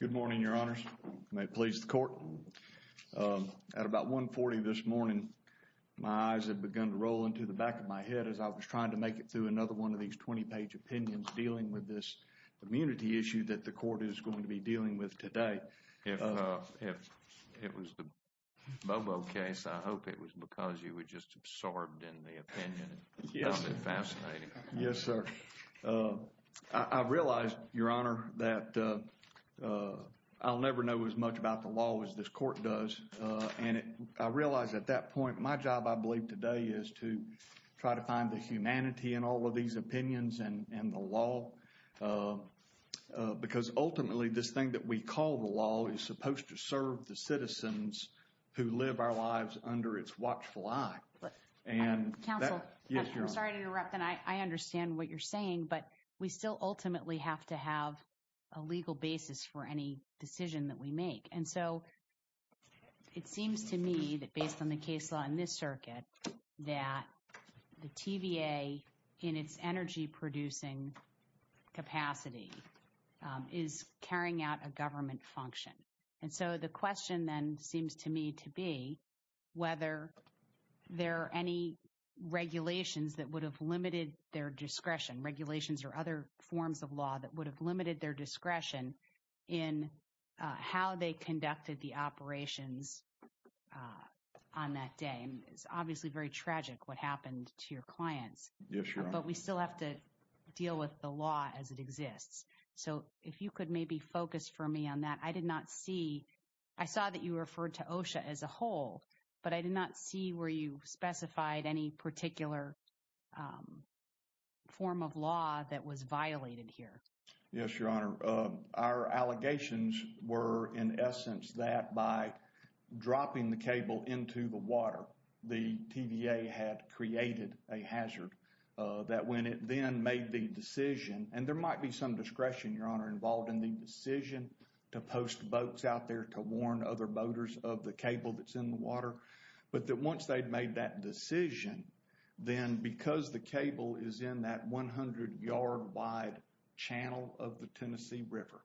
Good morning, Your Honors. May it please the Court. At about 1.40 this morning, my eyes had begun to roll into the back of my head as I was trying to make it through another one of these 20-page opinions dealing with this immunity issue that the Court is going to be dealing with today. If it was the Bobo case, I hope it was because you were just saying that I'll never know as much about the law as this Court does. And I realize at that point, my job, I believe, today is to try to find the humanity in all of these opinions and the law. Because ultimately, this thing that we call the law is supposed to serve the citizens who live our lives under its watchful eye. Right. Counsel, I'm sorry to interrupt, and I understand what you're saying, but we still ultimately have to have a legal basis for any decision that we make. And so, it seems to me that based on the case law in this circuit, that the TVA, in its energy-producing capacity, is carrying out a government function. And so, the question then seems to me to be whether there are any regulations that would have limited their discretion, regulations or other forms of law that would have limited their discretion in how they conducted the operations on that day. It's obviously very tragic what happened to your clients. Yes, Your Honor. But we still have to deal with the law as it exists. So, if you could maybe focus for me on that. I did not see, I saw that you referred to OSHA as a whole, but I did not see where you specified any particular form of law that was violated here. Yes, Your Honor. Our allegations were, in essence, that by dropping the cable into the water, the TVA had created a hazard. That when it then made the decision, and there might be some discretion, Your Honor, involved in the decision to post boats out there to warn other boaters of the cable that's in the water. But that once they'd made that decision, then because the cable is in that 100-yard wide channel of the Tennessee River,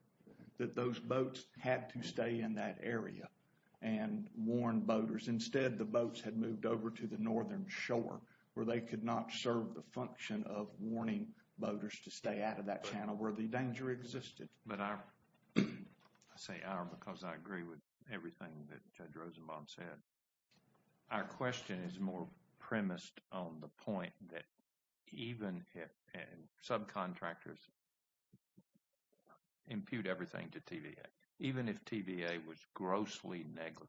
that those boats had to stay in that area and warn boaters. Instead, the boats had moved over to the northern shore where they could not serve the function of warning boaters to stay out of that channel where the danger existed. But I say our because I agree with everything that Judge Rosenbaum said. Our question is more premised on the point that even if subcontractors impute everything to TVA, even if TVA was grossly negligent,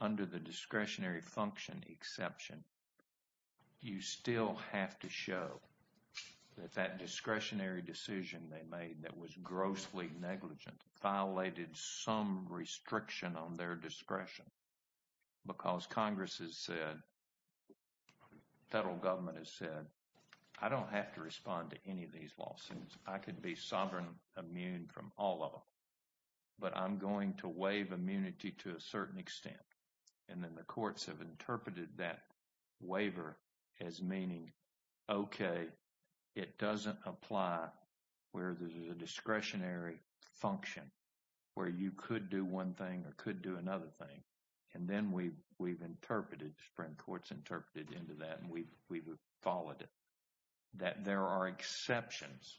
under the discretionary function exception, you still have to show that that discretionary decision they made that was grossly negligent violated some restriction on their discretion. Because Congress has said, federal government has said, I don't have to respond to any of these lawsuits. I could be immunity to a certain extent. And then the courts have interpreted that waiver as meaning, okay, it doesn't apply where there's a discretionary function, where you could do one thing or could do another thing. And then we've interpreted, the Supreme Court's interpreted into that and we've followed it, that there are exceptions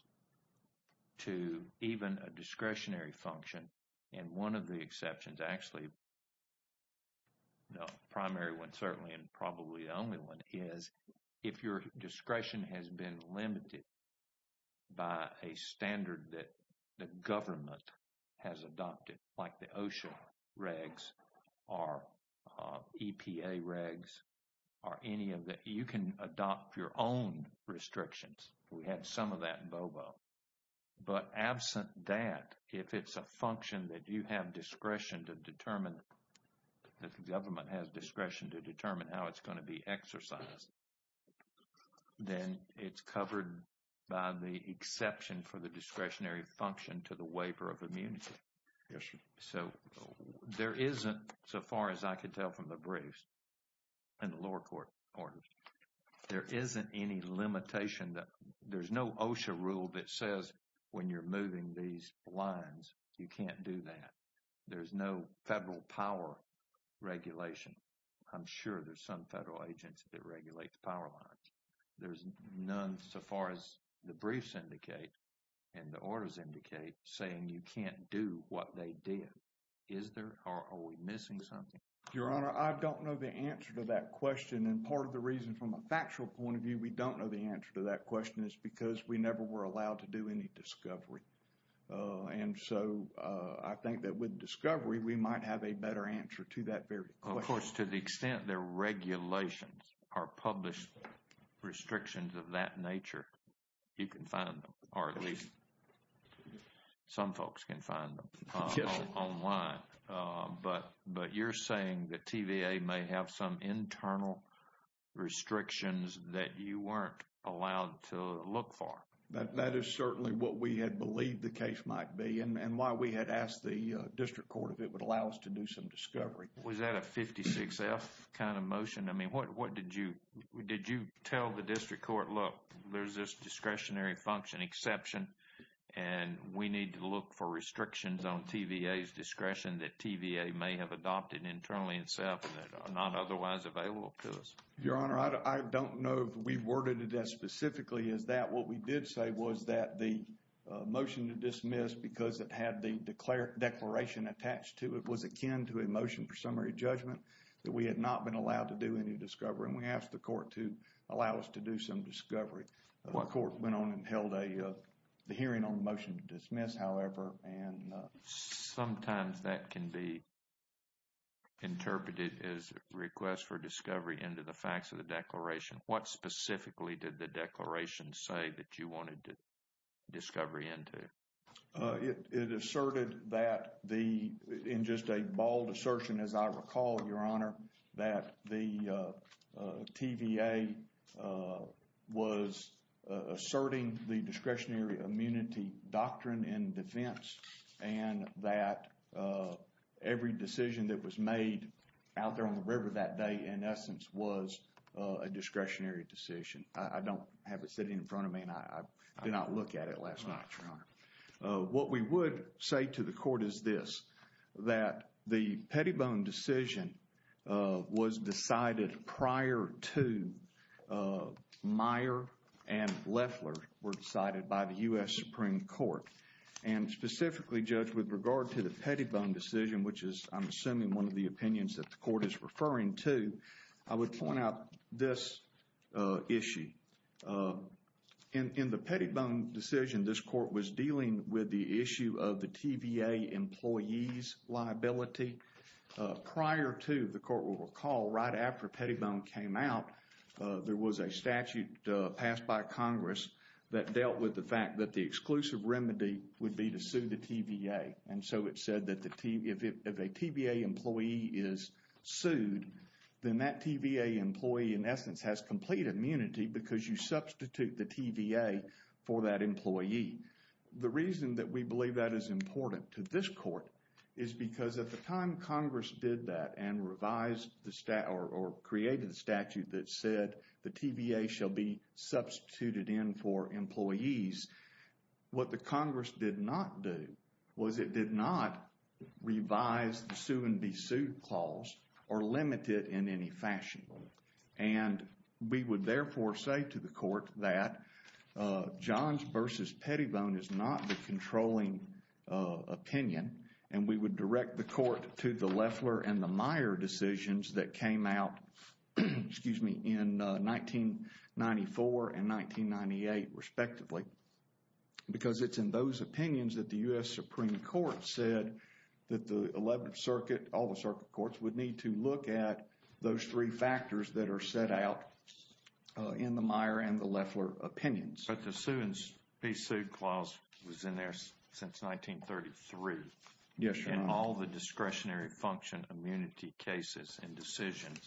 to even a discretionary function. And one of the exceptions, actually, the primary one, certainly, and probably the only one is, if your discretion has been limited by a standard that the government has adopted, like the OSHA regs or EPA regs or any of that, you can adopt your own restrictions. We had some of that in function that you have discretion to determine, that the government has discretion to determine how it's going to be exercised. Then it's covered by the exception for the discretionary function to the waiver of immunity. So, there isn't, so far as I could tell from the briefs and the lower court orders, there isn't any limitation that, there's no OSHA rule that says, when you're moving these lines, you can't do that. There's no federal power regulation. I'm sure there's some federal agents that regulate the power lines. There's none, so far as the briefs indicate and the orders indicate, saying you can't do what they did. Is there, or are we missing something? Your Honor, I don't know the answer to that question. And part of the reason, from a factual point of view, we don't know the answer to that question is because we never were any discovery. And so, I think that with discovery, we might have a better answer to that very question. Of course, to the extent their regulations are published restrictions of that nature, you can find them, or at least some folks can find them online. But you're saying that TVA may have some internal restrictions that you weren't allowed to look for. That is certainly what we had believed the case might be and why we had asked the district court if it would allow us to do some discovery. Was that a 56-F kind of motion? I mean, what did you, did you tell the district court, look, there's this discretionary function exception, and we need to look for restrictions on TVA's discretion that TVA may have adopted internally itself that are not otherwise available to us? Your Honor, I don't know if we worded it as specifically as that. What we did say was that the motion to dismiss, because it had the declaration attached to it, was akin to a motion for summary judgment that we had not been allowed to do any discovery. And we asked the court to allow us to do some discovery. The court went on and held a hearing on the motion to dismiss, however, and... Sometimes that can be interpreted as a request for discovery into the facts of the declaration. What specifically did the declaration say that you wanted discovery into? It asserted that the, in just a bald assertion, as I recall, Your Honor, that the TVA was asserting the discretionary immunity doctrine in defense and that every decision that was made out there on the river that day, in essence, was a discretionary decision. I don't have it sitting in front of me, and I did not look at it last night, Your Honor. What we would say to the court is this, that the Pettibone decision was decided prior to Meyer and Leffler were decided by the U.S. Supreme Court. And specifically, Judge, with regard to the I'm assuming one of the opinions that the court is referring to, I would point out this issue. In the Pettibone decision, this court was dealing with the issue of the TVA employee's liability. Prior to, the court will recall, right after Pettibone came out, there was a statute passed by Congress that dealt with the fact that the exclusive remedy would be to sue the TVA. And so it said that if a TVA employee is sued, then that TVA employee, in essence, has complete immunity because you substitute the TVA for that employee. The reason that we believe that is important to this court is because at the time Congress did that and revised the statute or created a statute that said the TVA shall be substituted in for employees. What the Congress did not do was it did not revise the sue and be sued clause or limit it in any fashion. And we would therefore say to the court that Johns versus Pettibone is not the controlling opinion. And we would direct the court to the Leffler and the Meyer decisions that came out, excuse me, in 1994 and 1998, respectively. Because it's in those opinions that the U.S. Supreme Court said that the 11th Circuit, all the circuit courts would need to look at those three factors that are set out in the Meyer and the Leffler opinions. But the sue and be sued clause was in there since 1933. Yes, Your Honor. All the discretionary function immunity cases and decisions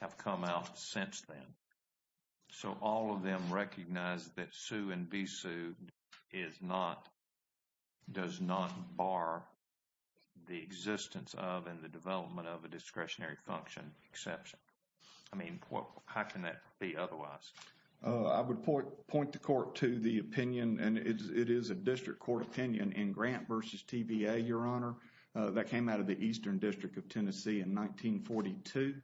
have come out since then. So all of them recognize that sue and be sued is not, does not bar the existence of and the development of a discretionary function exception. I mean, how can that be otherwise? I would point the court to the opinion and it is a district court opinion in Grant versus TVA, that came out of the Eastern District of Tennessee in 1942.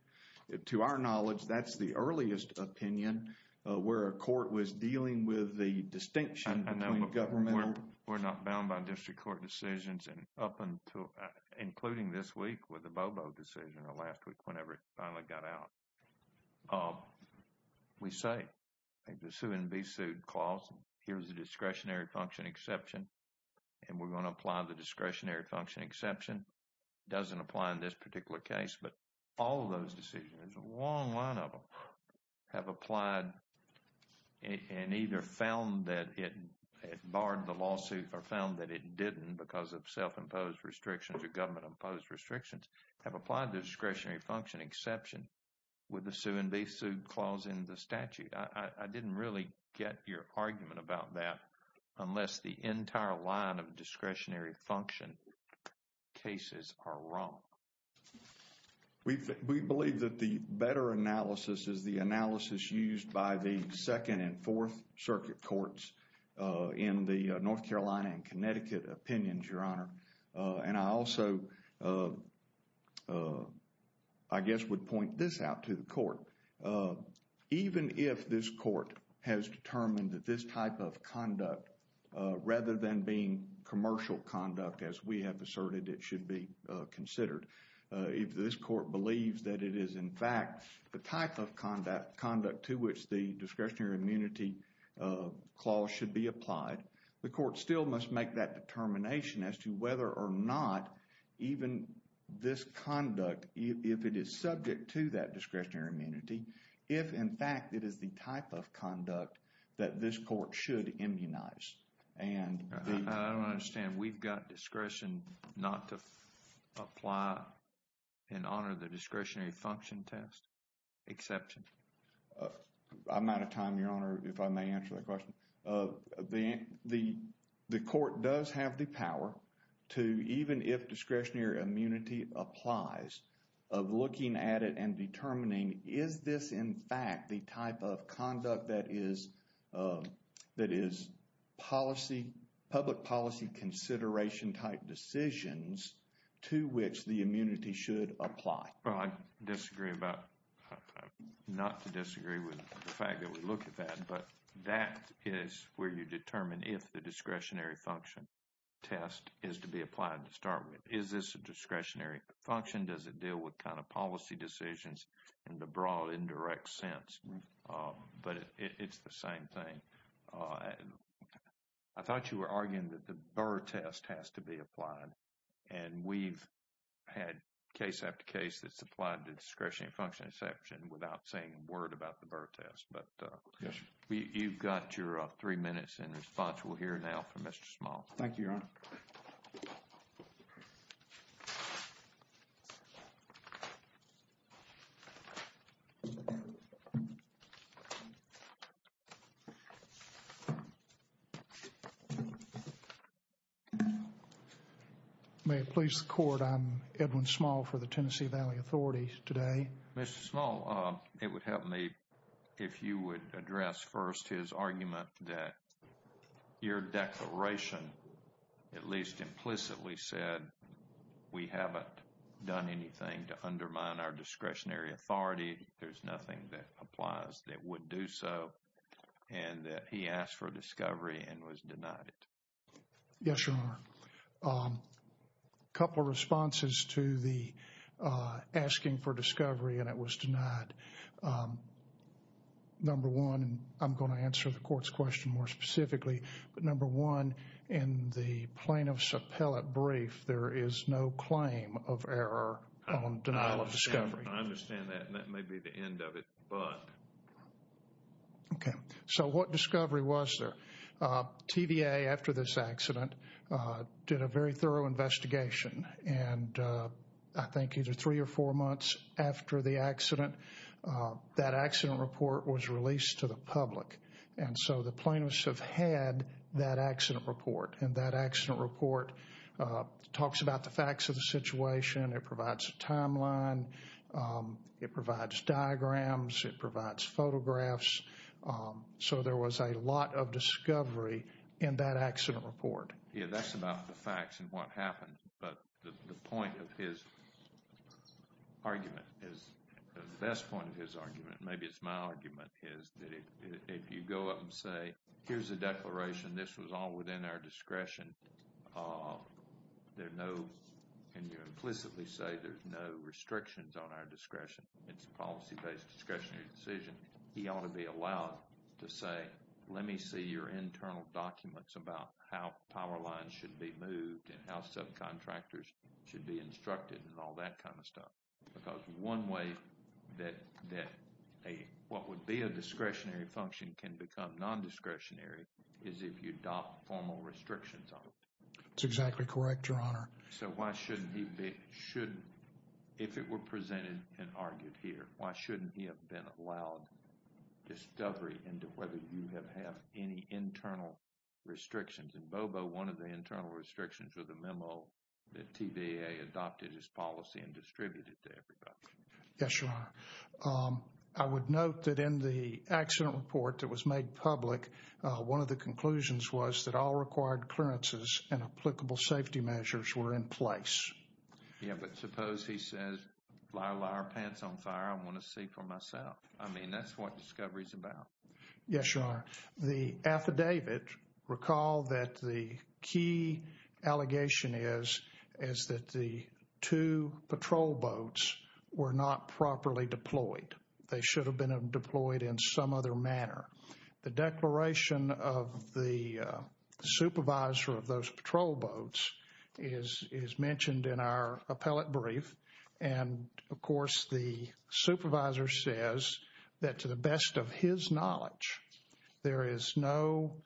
To our knowledge, that's the earliest opinion where a court was dealing with the distinction. We're not bound by district court decisions and up until, including this week with the Bobo decision or last week, whenever it finally got out. We say the sue and be sued clause, here's the discretionary function exception. And we're going to apply the discretionary function exception. It doesn't apply in this particular case, but all of those decisions, a long line of them, have applied and either found that it barred the lawsuit or found that it didn't because of self-imposed restrictions or government-imposed restrictions, have applied the discretionary function exception with the sue and be sued clause in the statute. I didn't really get your argument about that unless the entire line of discretionary function cases are wrong. We believe that the better analysis is the analysis used by the Second and Fourth Circuit Courts in the North Carolina and Connecticut opinions, Your Honor. And I also, I guess, would point this out to the court. Even if this court has determined that this type of conduct, rather than being commercial conduct as we have asserted it should be considered, if this court believes that it is, in fact, the type of conduct to which the discretionary immunity clause should be applied, the court still must make that determination as to whether or not even this conduct, if it is subject to that discretionary immunity, if, in fact, it is the type of conduct that this court should immunize. I don't understand. We've got discretion not to apply and honor the discretionary function test exception. I'm out of time, Your Honor, if I may answer that question. The court does have the power to, even if discretionary immunity applies, of looking at it and determining is this, in fact, the type of conduct that is, that is policy, public policy consideration type decisions to which the immunity should apply. Well, I disagree about, not to disagree with the fact that we look at that, but that is where you determine if the discretionary function test is to be applied to start with. Is this a discretionary function? Does it deal with kind of policy decisions in the broad, indirect sense? But it's the same thing. I thought you were arguing that the Burr test has to be applied. And we've had case after case that's applied to discretionary function exception without saying a word about the Burr test. But you've got your three minutes in response. We'll hear now from Mr. Small. May it please the court, I'm Edwin Small for the Tennessee Valley Authority today. Mr. Small, it would help me if you would address first his argument that your declaration, at least implicitly, said we haven't done anything to undermine our discretionary authority. There's nothing that applies that would do so. And that he asked for discovery and was denied it. Yes, Your Honor. A couple of responses to the asking for discovery and it was denied. Number one, and I'm going to answer the court's question more specifically, but number one, in the plaintiff's appellate brief, there is no claim of error on denial of discovery. I understand that and that may be the end of it, but... Okay. So what discovery was there? TVA, after this accident, did a very thorough investigation. And I think either three or four months after the accident, that accident report was released to the public. And so the plaintiffs have had that accident report. And that accident report talks about the facts of the situation. It provides a timeline. It provides diagrams. It provides photographs. So there was a lot of discovery in that accident report. Yeah, that's about the facts and what happened. But the point of his argument, maybe it's my argument, is that if you go up and say, here's the declaration. This was all within our discretion. There's no, and you implicitly say there's no restrictions on our discretion. It's a policy based discretionary decision. He ought to be allowed to say, let me see your internal documents about how power lines should be moved and how subcontractors should be instructed and all that kind of stuff. Because one way that a, what would be a discretionary function can become non-discretionary is if you adopt formal restrictions on it. That's exactly correct, Your Honor. So why shouldn't he be, shouldn't, if it were presented and argued here, why shouldn't he have been allowed discovery into whether you have any internal restrictions? And Bobo, one of the internal restrictions was the memo that TVA adopted his policy and distributed to everybody. Yes, Your Honor. I would note that in the accident report that was made public, one of the conclusions was that all required clearances and applicable safety measures were in place. Yeah, but suppose he says, lie, lie, our pants on fire. I want to see for myself. I mean, that's what discovery is about. Yes, Your Honor. The affidavit recall that the key allegation is, is that the two patrol boats were not properly deployed. They should have been deployed in some other manner. The declaration of the supervisor of those patrol boats is, is mentioned in our appellate brief. And of course, the supervisor says that to the best of his knowledge, there is no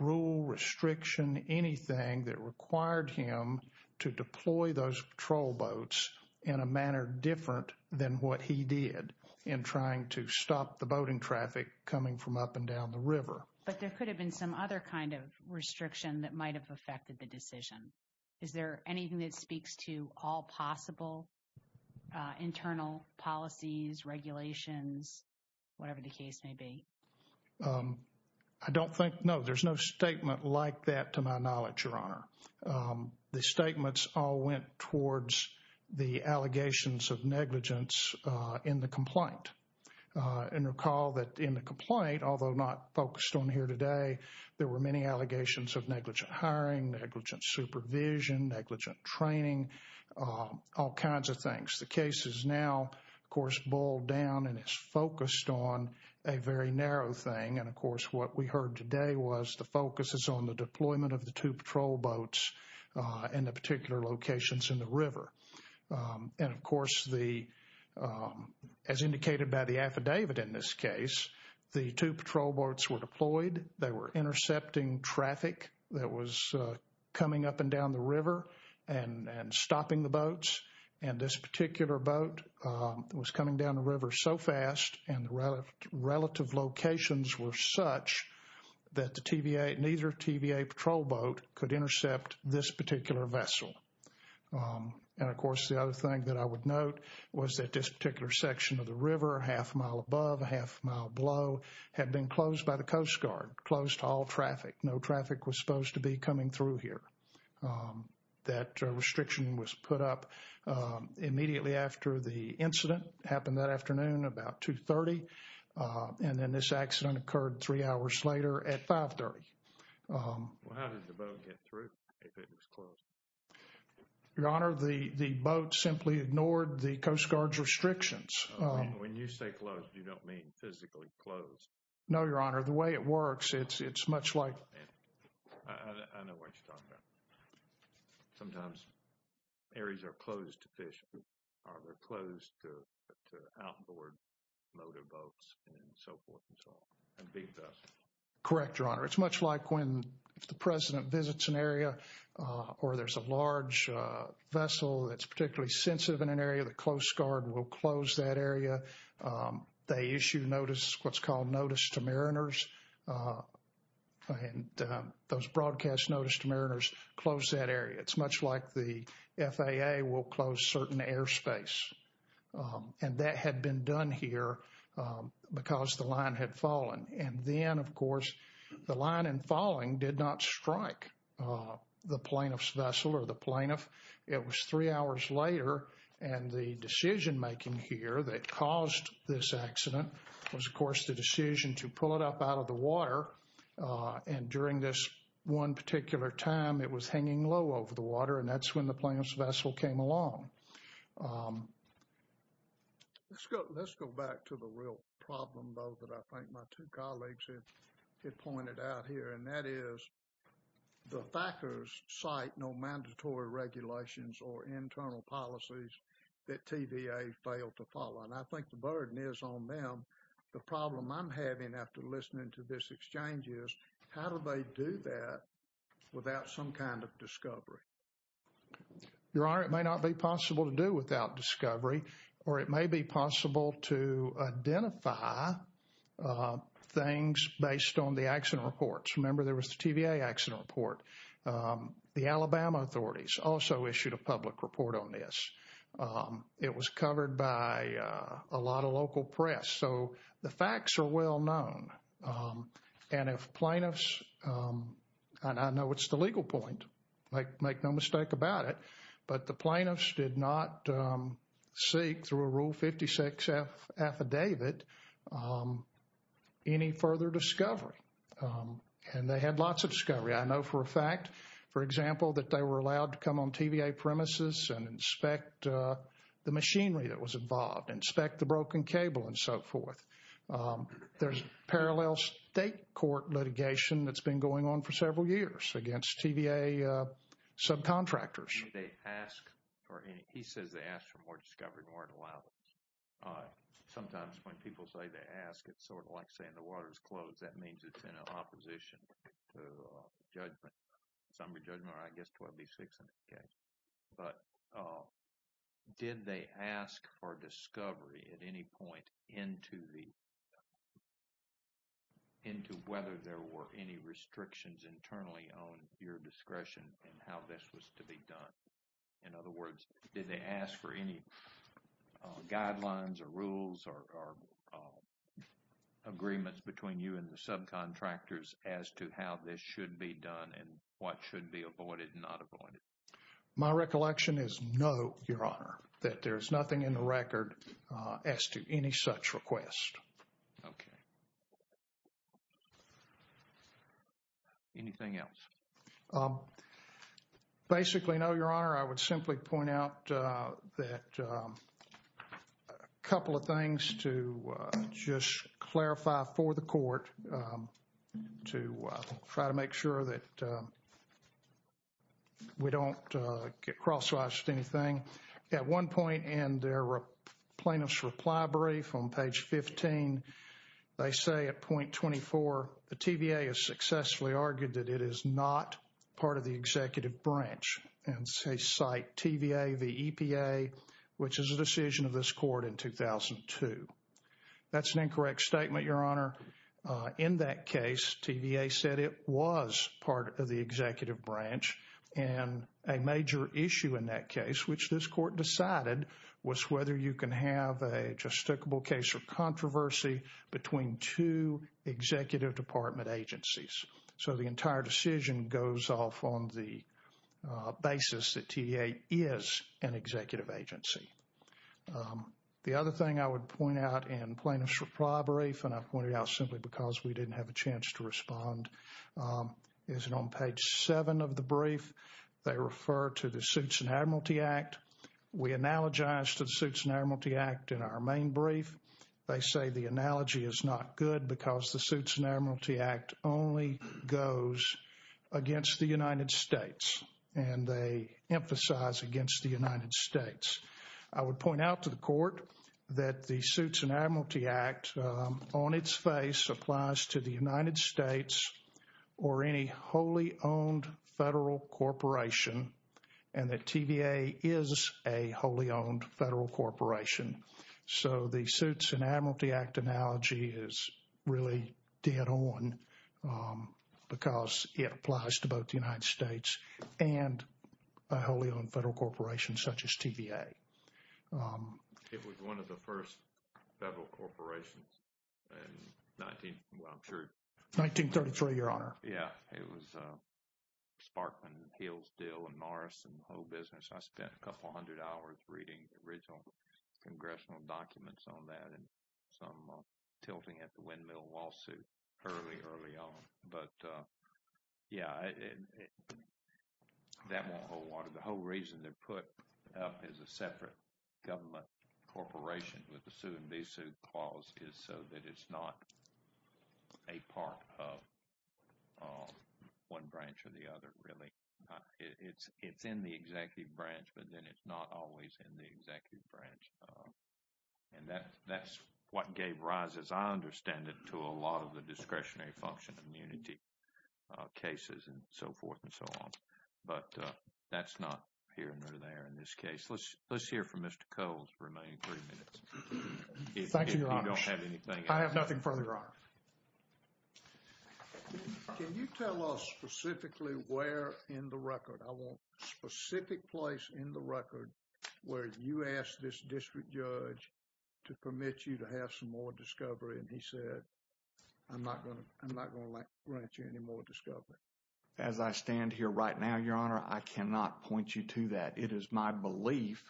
rule restriction, anything that required him to deploy those patrol boats in a manner different than what he did in trying to stop the boating traffic coming from up and down the river. But there could have been some other kind of restriction that might have affected the decision. Is there anything that speaks to all possible internal policies, regulations, whatever the case may be? I don't think, no, there's no statement like that to my knowledge, Your Honor. The statements all went towards the allegations of negligence in the complaint. And recall that in the complaint, although not focused on here today, there were many allegations of negligent hiring, negligent supervision, negligent training, all kinds of things. The case is now, of course, boiled down and is focused on a very narrow thing. And of course, what we heard today was the focus is on the deployment of the two patrol boats in the particular locations in the river. And of course, the, as indicated by the affidavit in this case, the two patrol boats were deployed. They were intercepting traffic that was coming up and down the river and stopping the boats. And this particular boat was coming down the river so fast and the relative locations were such that the TVA, neither TVA patrol boat could intercept this particular vessel. And of course, the other thing that I would note was that this particular section of the river, a half mile above, a half mile below, had been closed by the Coast Guard, closed all traffic. No traffic was supposed to be coming through here. That restriction was put up immediately after the incident happened that afternoon about 2.30. And then this accident occurred three hours later at 5.30. How did the boat get through if it was closed? Your Honor, the boat simply ignored the Coast Guard's restrictions. When you say closed, you don't mean physically closed? No, Your Honor. The way it works, it's much like... I know what you're talking about. Sometimes areas are closed to fishing, or they're closed to outboard motor boats and so forth and so on, and big vessels. Correct, Your Honor. It's much like when the President visits an area or there's a large vessel that's particularly sensitive in an area, the Coast Guard will close that area. They issue notice, what's called notice to mariners, and those broadcast notice to mariners close that area. It's much like the FAA will close certain airspace. And that had been done here because the line had fallen. And then, of course, the line and falling did not strike the plaintiff's vessel or the plaintiff. It was three hours later, and the decision-making here that caused this accident was, of course, the decision to pull it up out of the water. And during this one particular time, it was hanging low over the water, and that's when the plaintiff's vessel came along. Let's go back to the real problem, though, that I think my two colleagues had pointed out here, and that is the FACERS cite no mandatory regulations or internal policies that TVA failed to follow. And I think the burden is on them. The problem I'm having after listening to this exchange is, how do they do that without some kind of discovery? Your Honor, it may not be possible to do without discovery, or it may be possible to identify things based on the accident reports. Remember, there was the TVA accident report. The Alabama authorities also issued a public report on this. It was covered by a lot of local press. So, the facts are well known. And if plaintiffs, and I know it's the legal point, make no mistake about it, but the plaintiffs did not seek through a Rule 56 affidavit any further discovery. And they had lots of discovery. I know for a fact, for example, that they were allowed to come on TVA premises and inspect the machinery that was involved, inspect the broken cable, and so forth. There's parallel state court litigation that's been going on for several years against TVA subcontractors. They ask for any, he says they ask for more discovery and weren't allowed. Sometimes when people say they ask, it's sort of like saying the water's closed. That means it's in opposition to judgment. Some of the judgment, I guess, 12B600K. But did they ask for discovery at any point into the, into whether there were any restrictions internally on your discretion and how this was to be done? In other words, did they ask for any guidelines or rules or agreements between you and the subcontractors as to how this should be done and what should be avoided and not avoided? My recollection is no, Your Honor, that there's nothing in the record as to any such request. Okay. Anything else? Basically, no, Your Honor. I would simply point out that a couple of things to just clarify for the court to try to make sure that we don't get crosswised with anything. At one point in their plaintiff's reply brief on page 15, they say at point 24, the TVA has successfully argued that it is not part of the executive branch and say, cite TVA, the EPA, which is a decision of this court in 2002. That's an incorrect statement, Your Honor. In that case, TVA said it was part of the executive branch. And a major issue in that case, which this court decided, was whether you can have a justifiable case of controversy between two executive department agencies. So the entire decision goes off on the basis that TVA is an executive agency. The other thing I would point out in plaintiff's reply brief, and I pointed out simply because we didn't have a chance to respond, is on page seven of the brief, they refer to the Suits and Admiralty Act. We analogize to the Suits and Admiralty Act in our main brief. They say the analogy is not good because the Suits and Admiralty Act only goes against the United States. And they emphasize against the United States. I would point out to the court that the Suits and Admiralty Act on its face applies to the United States or any wholly owned federal corporation, and that TVA is a wholly owned federal corporation. So the Suits and Admiralty Act analogy is really dead on because it applies to both the United States and a wholly owned federal corporation such as TVA. It was one of the first federal corporations in 19, well, I'm sure. 1933, Your Honor. Yeah. It was Sparkman, Hillsdale, and Morris, and the whole business. I spent a couple hundred hours reading original congressional documents on that and some tilting at the windmill lawsuit early, early on. But yeah, that won't hold water. The whole reason they're put up as a separate government corporation with the sue and be sued clause is so that it's not a part of one branch or the other, really. It's in the executive branch, but then it's not always in the executive branch. And that's what gave rise, as I understand it, to a lot of the discretionary function immunity cases and so forth and so on. But that's not here nor there in this case. Let's hear from Mr. Cole's remaining three minutes. Thank you, Your Honor. If you don't have anything else. I have nothing further, Your Honor. Can you tell us specifically where in the record? I want a specific place in the record where you asked this district judge to permit you to have some more discovery. And he said, I'm not going to grant you any more discovery. As I stand here right now, Your Honor, I cannot point you to that. It is my belief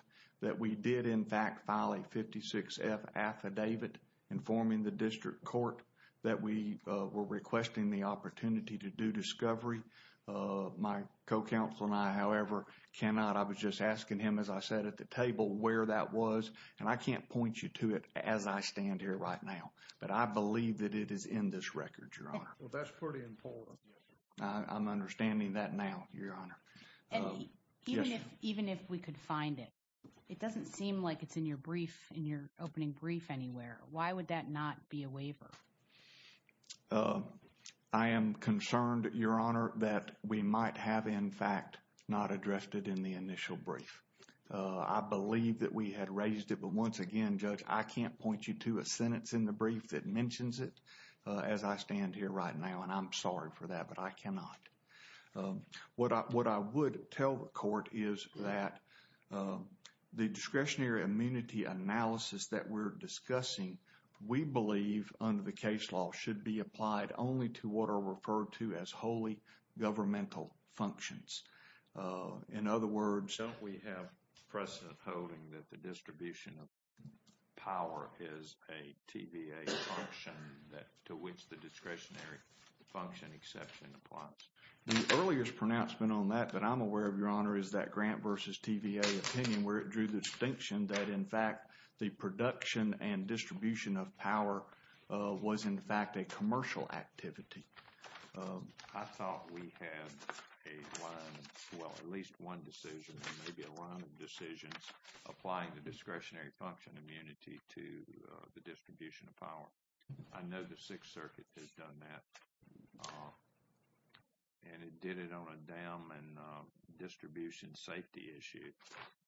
that we did, in fact, file a 56F affidavit informing the district court that we were requesting the opportunity to do discovery. My co-counsel and I, however, cannot. I was just asking him, as I said at the table, where that was. And I can't point you to it as I stand here right now. But I believe that it is in this record, Your Honor. Well, that's pretty important. I'm understanding that now, Your Honor. Even if we could find it, it doesn't seem like it's in your brief, in your opening brief anywhere. Why would that not be a waiver? I am concerned, Your Honor, that we might have, in fact, not addressed it in the initial brief. I believe that we had raised it, but once again, Judge, I can't point you to a sentence in the brief that mentions it as I stand here right now. And I'm sorry for that, but I cannot. What I would tell the court is that the discretionary immunity analysis that we're discussing, we believe under the case law, should be applied only to what are referred to as wholly governmental functions. In other words... Don't we have precedent holding that the distribution of power is a TVA function to which the discretionary function exception applies? The earliest pronouncement on that that I'm aware of, Your Honor, is that Grant versus TVA opinion where it drew the distinction that, in fact, the production and distribution of power was, in fact, a commercial activity. I thought we had at least one decision, maybe a run of decisions, applying the discretionary function immunity to the distribution of power. I know the Sixth Circuit has done that. And it did it on a dam and distribution safety issue.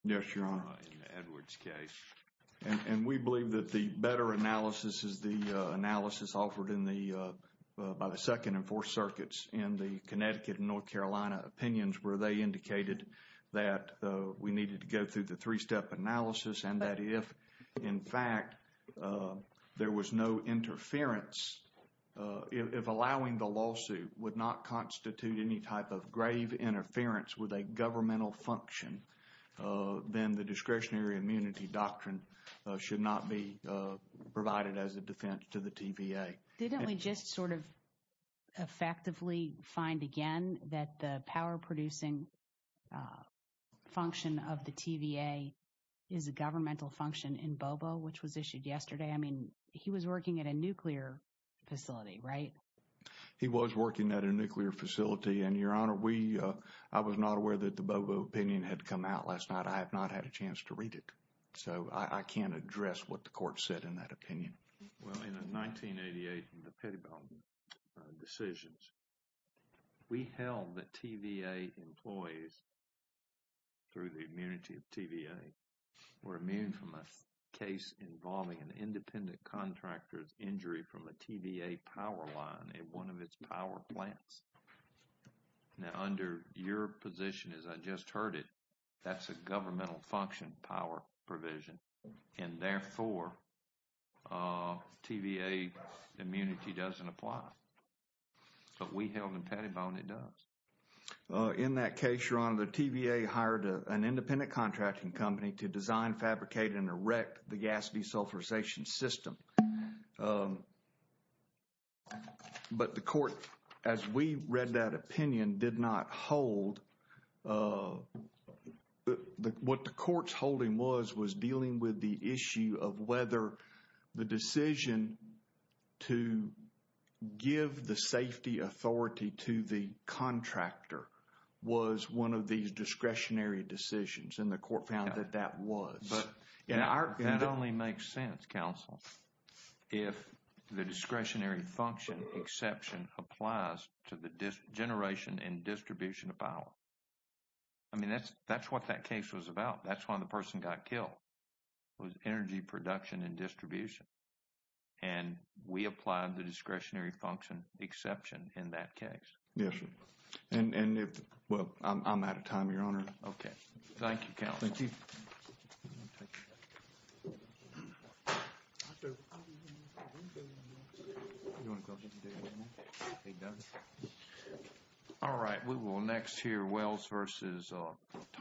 Yes, Your Honor. In Edward's case. And we believe that the better analysis is the analysis offered by the Second and Fourth Circuits in the Connecticut and North Carolina opinions where they indicated that we needed to go through the three-step analysis and that if, in fact, there was no interference, if allowing the lawsuit would not constitute any type of grave interference with a governmental function, then the discretionary immunity doctrine should not be provided as a defense to the TVA. Didn't we just sort of effectively find again that the power producing function of the TVA is a governmental function in Bobo, which was issued yesterday? I mean, he was working at a nuclear facility, right? He was working at a nuclear facility. And, Your Honor, I was not aware that the Bobo opinion had come out last night. I have not had a chance to read it. So, I can't address what the court said in that opinion. Well, in the 1988 and the Pettibone decisions, we held that TVA employees, through the immunity of TVA, were immune from a case involving an independent contractor's injury from a TVA power line in one of its power plants. Now, under your position, as I just heard it, that's a governmental function power provision. And therefore, TVA immunity doesn't apply. But we held in Pettibone it does. In that case, Your Honor, the TVA hired an independent contracting company to design, fabricate, and erect the gas desulfurization system. But the court, as we read that opinion, did not hold. What the court's holding was, was dealing with the issue of whether the decision to give the safety authority to the contractor was one of these discretionary decisions. And the court found that that was. That only makes sense, counsel, if the discretionary function exception applies to the generation and distribution of power. I mean, that's what that case was about. That's why the person got killed, was energy production and distribution. And we applied the discretionary function exception in that case. Yes, sir. And, well, I'm out of time, Your Honor. Okay. Thank you, counsel. Thank you. Thank you. All right. We will next hear Wells versus